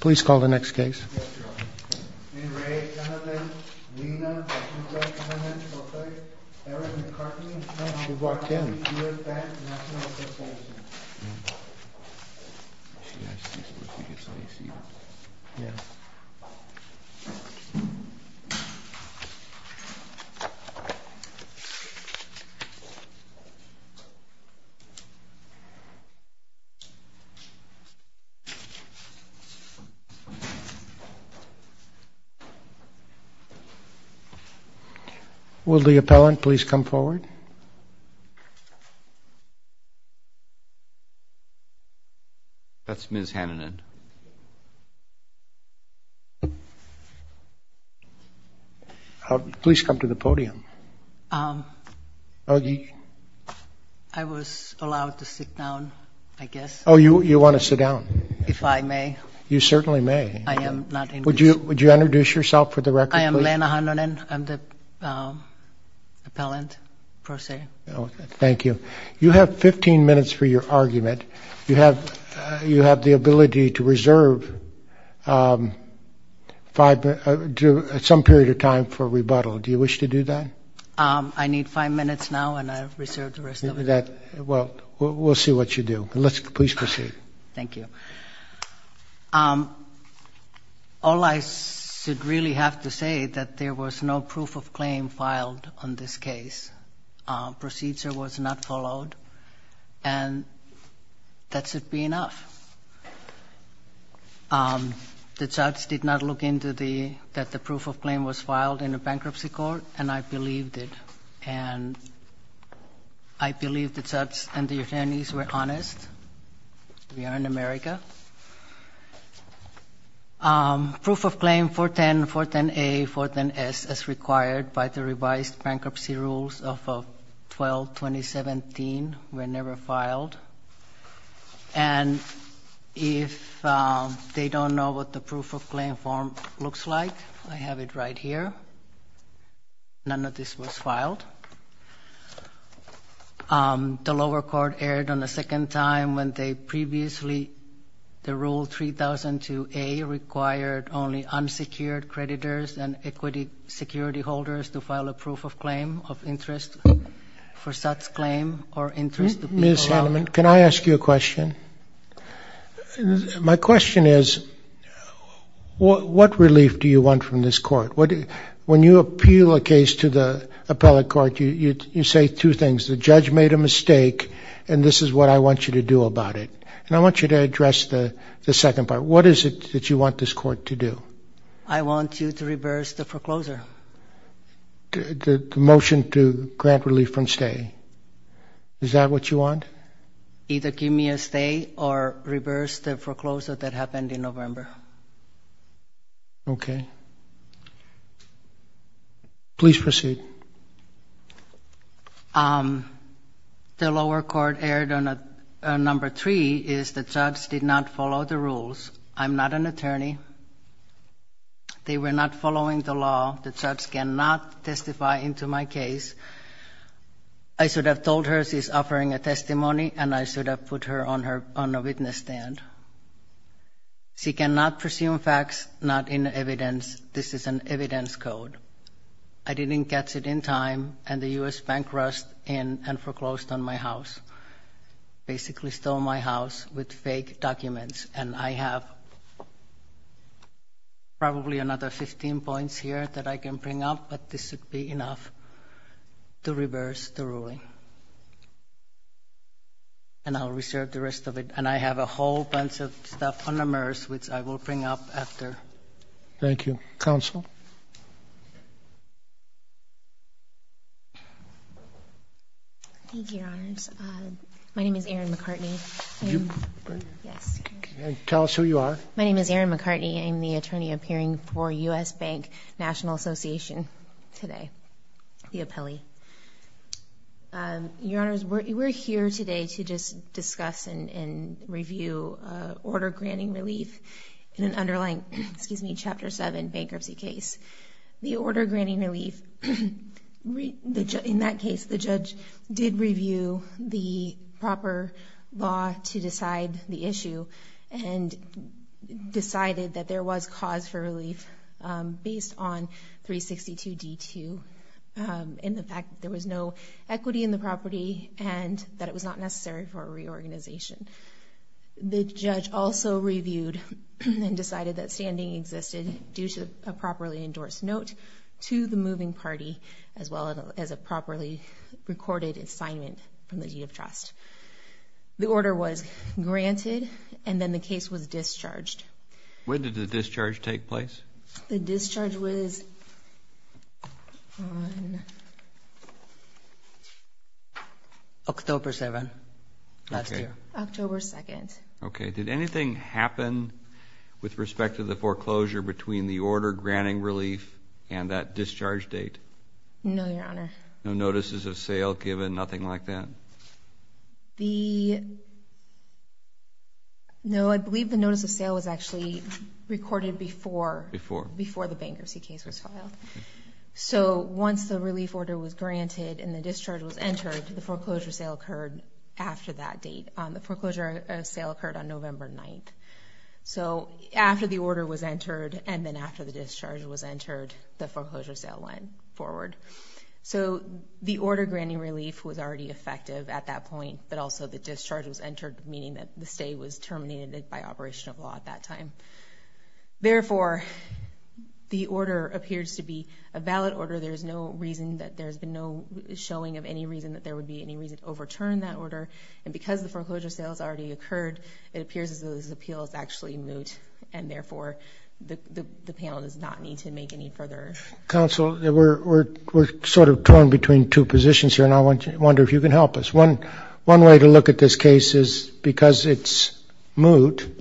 please call the next case will the appellant please come forward that's ms. HANNONEN please come to the podium. I was allowed to sit down I guess oh you you want to sit down. If I may. You certainly may. I am not. Would you would you introduce yourself for the record? I am Lena Hannonen. I'm the appellant pro se. Thank you. You have 15 minutes for your argument. You have you have the ability to reserve five minutes at some period of time for rebuttal. Do you wish to do that? I need five minutes now and I reserve the rest of it. Well we'll see what you do. Please proceed. Thank you. All I should really have to say that there was no proof of claim filed on this case. Procedure was not followed and that should be enough. The judge did not look into the that the proof of claim was filed in a bankruptcy court and I believed it and I believe the judge and the attorneys were honest. We are in America. Proof of claim 410, 410A, 410S as required by the revised bankruptcy rules of 12-2017 were never filed and if they don't know what the proof of claim form looks like I have it right here. None of this was filed. The lower court erred on the second time when they previously the rule 3002A required only unsecured creditors and equity security holders to file a proof of claim of interest for such claim or interest. Ms. Hannonen, can I ask you a question? My question is what relief do you want from this court? When you appeal a case to the appellate court you say two things. The judge made a mistake and this is what I want you to do about it and I want you to address the the second part. What is it that you want this court to do? I want you to reverse the foreclosure. The motion to grant relief from stay. Is that what you want? Either give me a stay or reverse the November. Okay. Please proceed. The lower court erred on a number three is the judge did not follow the rules. I'm not an attorney. They were not following the law. The judge cannot testify into my case. I should have told her she's She cannot presume facts not in evidence. This is an evidence code. I didn't catch it in time and the US Bank rushed in and foreclosed on my house. Basically stole my house with fake documents and I have probably another 15 points here that I can bring up but this would be enough to reverse the ruling. And I'll reserve the I will bring up after. Thank you. Counsel. Thank you, Your Honors. My name is Erin McCartney. Yes. Tell us who you are. My name is Erin McCartney. I'm the attorney appearing for US Bank National Association today. The appellee. Your Honors, we're here today to just discuss and review order granting relief in an underlying, excuse me, Chapter 7 bankruptcy case. The order granting relief. In that case, the judge did review the proper law to decide the issue and decided that there was cause for relief based on 362 D2 in the fact that there was no equity in the property and that it was not necessary for a reviewed and decided that standing existed due to a properly endorsed note to the moving party as well as a properly recorded assignment from the deed of trust. The order was granted and then the case was discharged. When did the discharge take place? The discharge was October 7 last year. October 2nd. Okay. Did anything happen with respect to the foreclosure between the order granting relief and that discharge date? No, Your Honor. No notices of sale given, nothing like that? The, no, I believe the notice of sale was actually recorded before. Before. Before the bankruptcy case was filed. So once the relief order was granted and the discharge was entered, the foreclosure sale occurred after that on November 9th. So after the order was entered and then after the discharge was entered, the foreclosure sale went forward. So the order granting relief was already effective at that point, but also the discharge was entered, meaning that the stay was terminated by operation of law at that time. Therefore, the order appears to be a valid order. There's no reason that there's been no showing of any reason that there would be any reason to overturn that order. And because the foreclosure sale has already occurred, it appears as though this appeal is actually moot and therefore the panel does not need to make any further... Counsel, we're sort of torn between two positions here and I wonder if you can help us. One way to look at this case is because it's moot,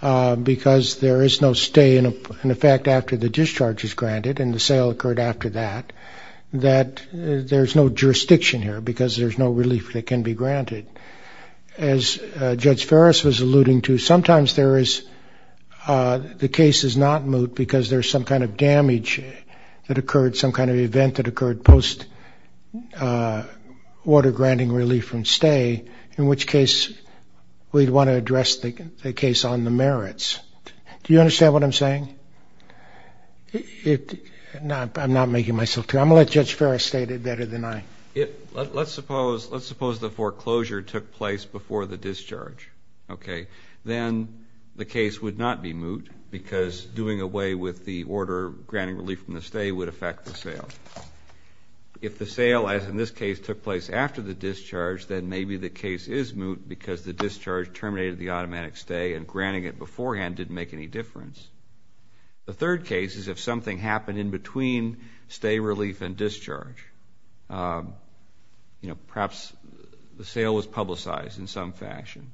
because there is no stay in effect after the discharge is granted and the sale occurred after that, that there's no jurisdiction here because there's no relief that can be granted. As Judge Ferris was alluding to, sometimes the case is not moot because there's some kind of damage that occurred, some kind of event that occurred post order granting relief from stay, in which case we'd want to address the case on the merits. Do you understand what I'm saying? I'm not making myself clear. I'm going to let Judge Ferris state it better than I. Let's suppose the foreclosure took place before the discharge, okay. Then the case would not be moot because doing away with the order granting relief from the stay would affect the sale. If the sale, as in this case, took place after the discharge, then maybe the case is moot because the discharge terminated the automatic stay and granting it beforehand didn't make any difference. The third case is if something happened in between stay and discharge. Perhaps the sale was publicized in some fashion.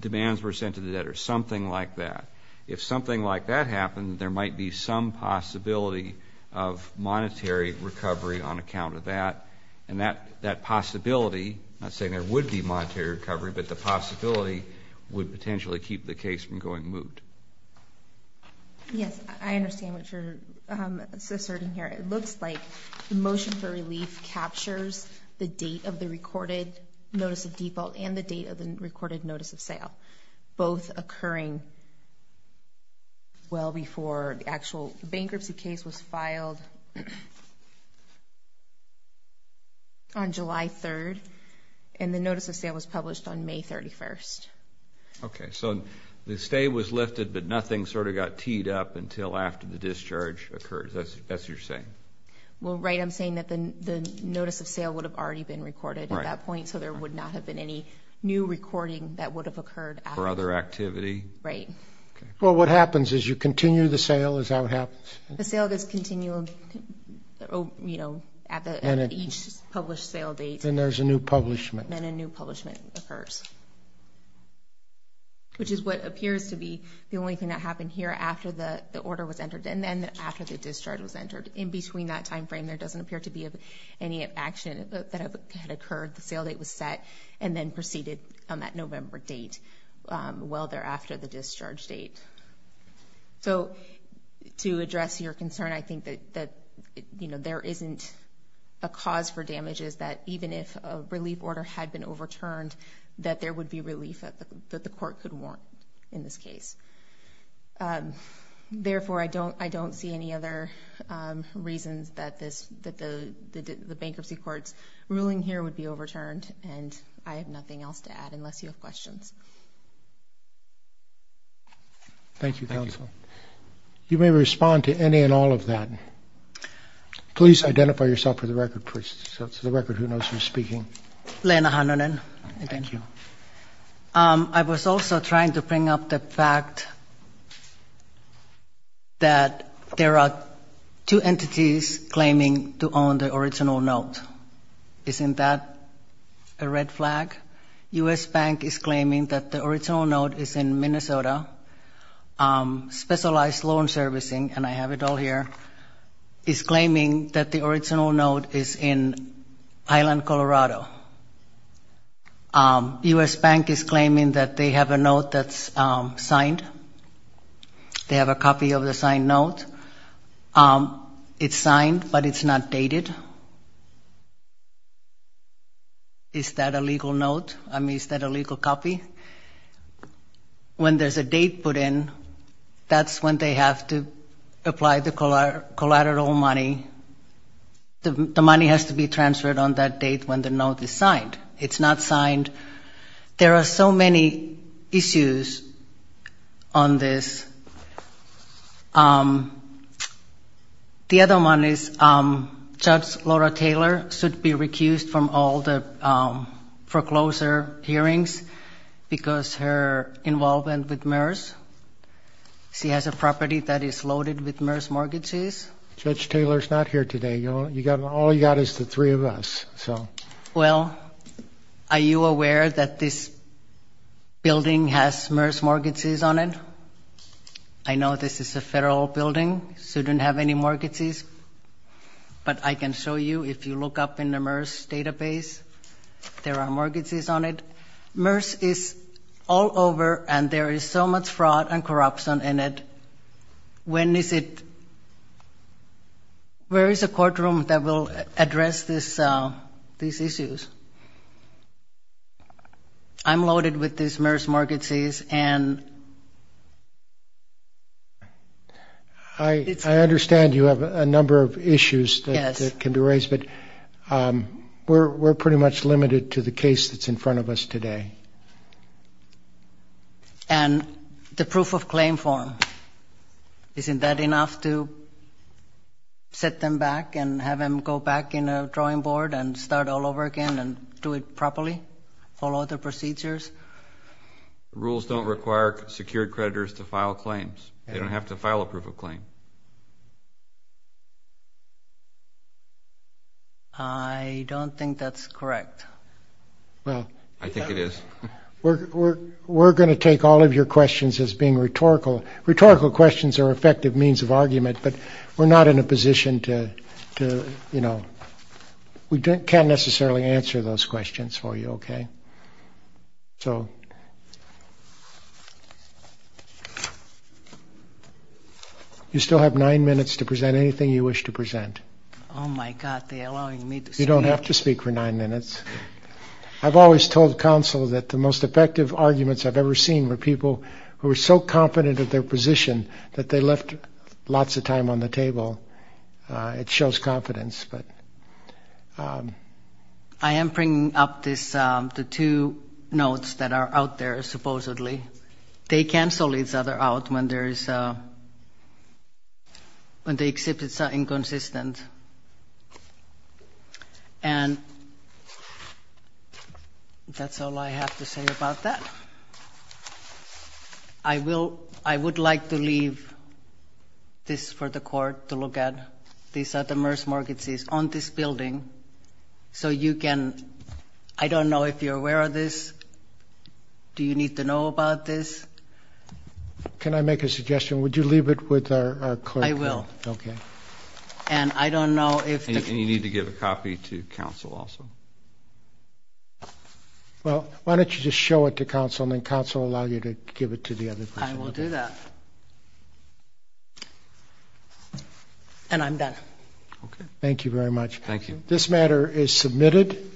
Demands were sent to the debtors, something like that. If something like that happened, there might be some possibility of monetary recovery on account of that. And that possibility, I'm not saying there would be monetary recovery, but the possibility would potentially keep the case from going moot. Yes, I understand what you're asserting here. It looks like the motion for captures the date of the recorded notice of default and the date of the recorded notice of sale, both occurring well before the actual bankruptcy case was filed on July 3rd, and the notice of sale was published on May 31st. Okay, so the stay was lifted, but nothing sort of got teed up until after the discharge occurred. That's what you're saying. Well, right, I'm saying that the notice of sale would have already been recorded at that point, so there would not have been any new recording that would have occurred after. For other activity? Right. Well, what happens is you continue the sale, is that what happens? The sale does continue, you know, at each published sale date. Then there's a new publishment. Then a new publishment occurs, which is what appears to be the only thing that happened here after the order was entered, and then after the discharge was entered. In between that time frame, there doesn't appear to be any action that had occurred. The sale date was set and then proceeded on that November date, well thereafter the discharge date. So to address your concern, I think that, you know, there isn't a cause for damages that even if a relief order had been overturned, that there would be relief that the court could warrant in this case. Therefore, I don't see any other reasons that the bankruptcy court's ruling here would be overturned, and I have nothing else to add unless you have questions. Thank you, counsel. You may respond to any and all of that. Please identify yourself for the record, please. So for the record, who knows who's speaking? Lena Hanonen. Thank you. I was also trying to bring up the fact that there are two entities claiming to own the original note. Isn't that a red flag? U.S. Bank is claiming that the original note is in Minnesota. Specialized Loan Servicing, and I have it all here, is claiming that the original note is in Highland, Colorado. U.S. Bank is signed. They have a copy of the signed note. It's signed, but it's not dated. Is that a legal note? I mean, is that a legal copy? When there's a date put in, that's when they have to apply the collateral money. The money has to be transferred on that date when the note is signed. It's not on this. The other one is, Judge Laura Taylor should be recused from all the foreclosure hearings because her involvement with MERS. She has a property that is loaded with MERS mortgages. Judge Taylor's not here today. All you got is the three of us. Well, are you aware that this has MERS mortgages on it? I know this is a federal building. It shouldn't have any mortgages, but I can show you. If you look up in the MERS database, there are mortgages on it. MERS is all over, and there is so much fraud and corruption in it. When is it... Where is a courtroom that will address these issues? I'm loaded with these MERS mortgages, and... I understand you have a number of issues that can be raised, but we're pretty much limited to the case that's in front of us today. And the proof of claim form, isn't that enough to set them back and have them go back in a drawing board and start all over again and do it properly, follow the procedures? Rules don't require secured creditors to file claims. They don't have to file a proof of claim. I don't think that's correct. Well, I think it is. We're going to take all of your questions as being rhetorical. Rhetorical questions are effective means of argument, but we're not in a position to, you know, we can't necessarily answer those questions for you, okay? So, you still have nine minutes to present anything you wish to present. Oh my god, they're allowing me to speak? You don't have to speak for nine minutes. I've always told counsel that the most effective arguments I've ever seen were people who were so confident of their position that they left lots of time on the table. It shows confidence, but... I am bringing up this, the two notes that are out there supposedly. They cancel each other out when there is, when the exhibits are inconsistent. And that's all I have to say about that. I will, I would like to look at these other MERS market seats on this building, so you can, I don't know if you're aware of this, do you need to know about this? Can I make a suggestion? Would you leave it with our clerk? I will. Okay. And I don't know if... And you need to give a copy to counsel also. Well, why don't you just show it to counsel and counsel will allow you to give it to the other person. I will do that. And I'm done. Okay. Thank you very much. Thank you. This matter is submitted.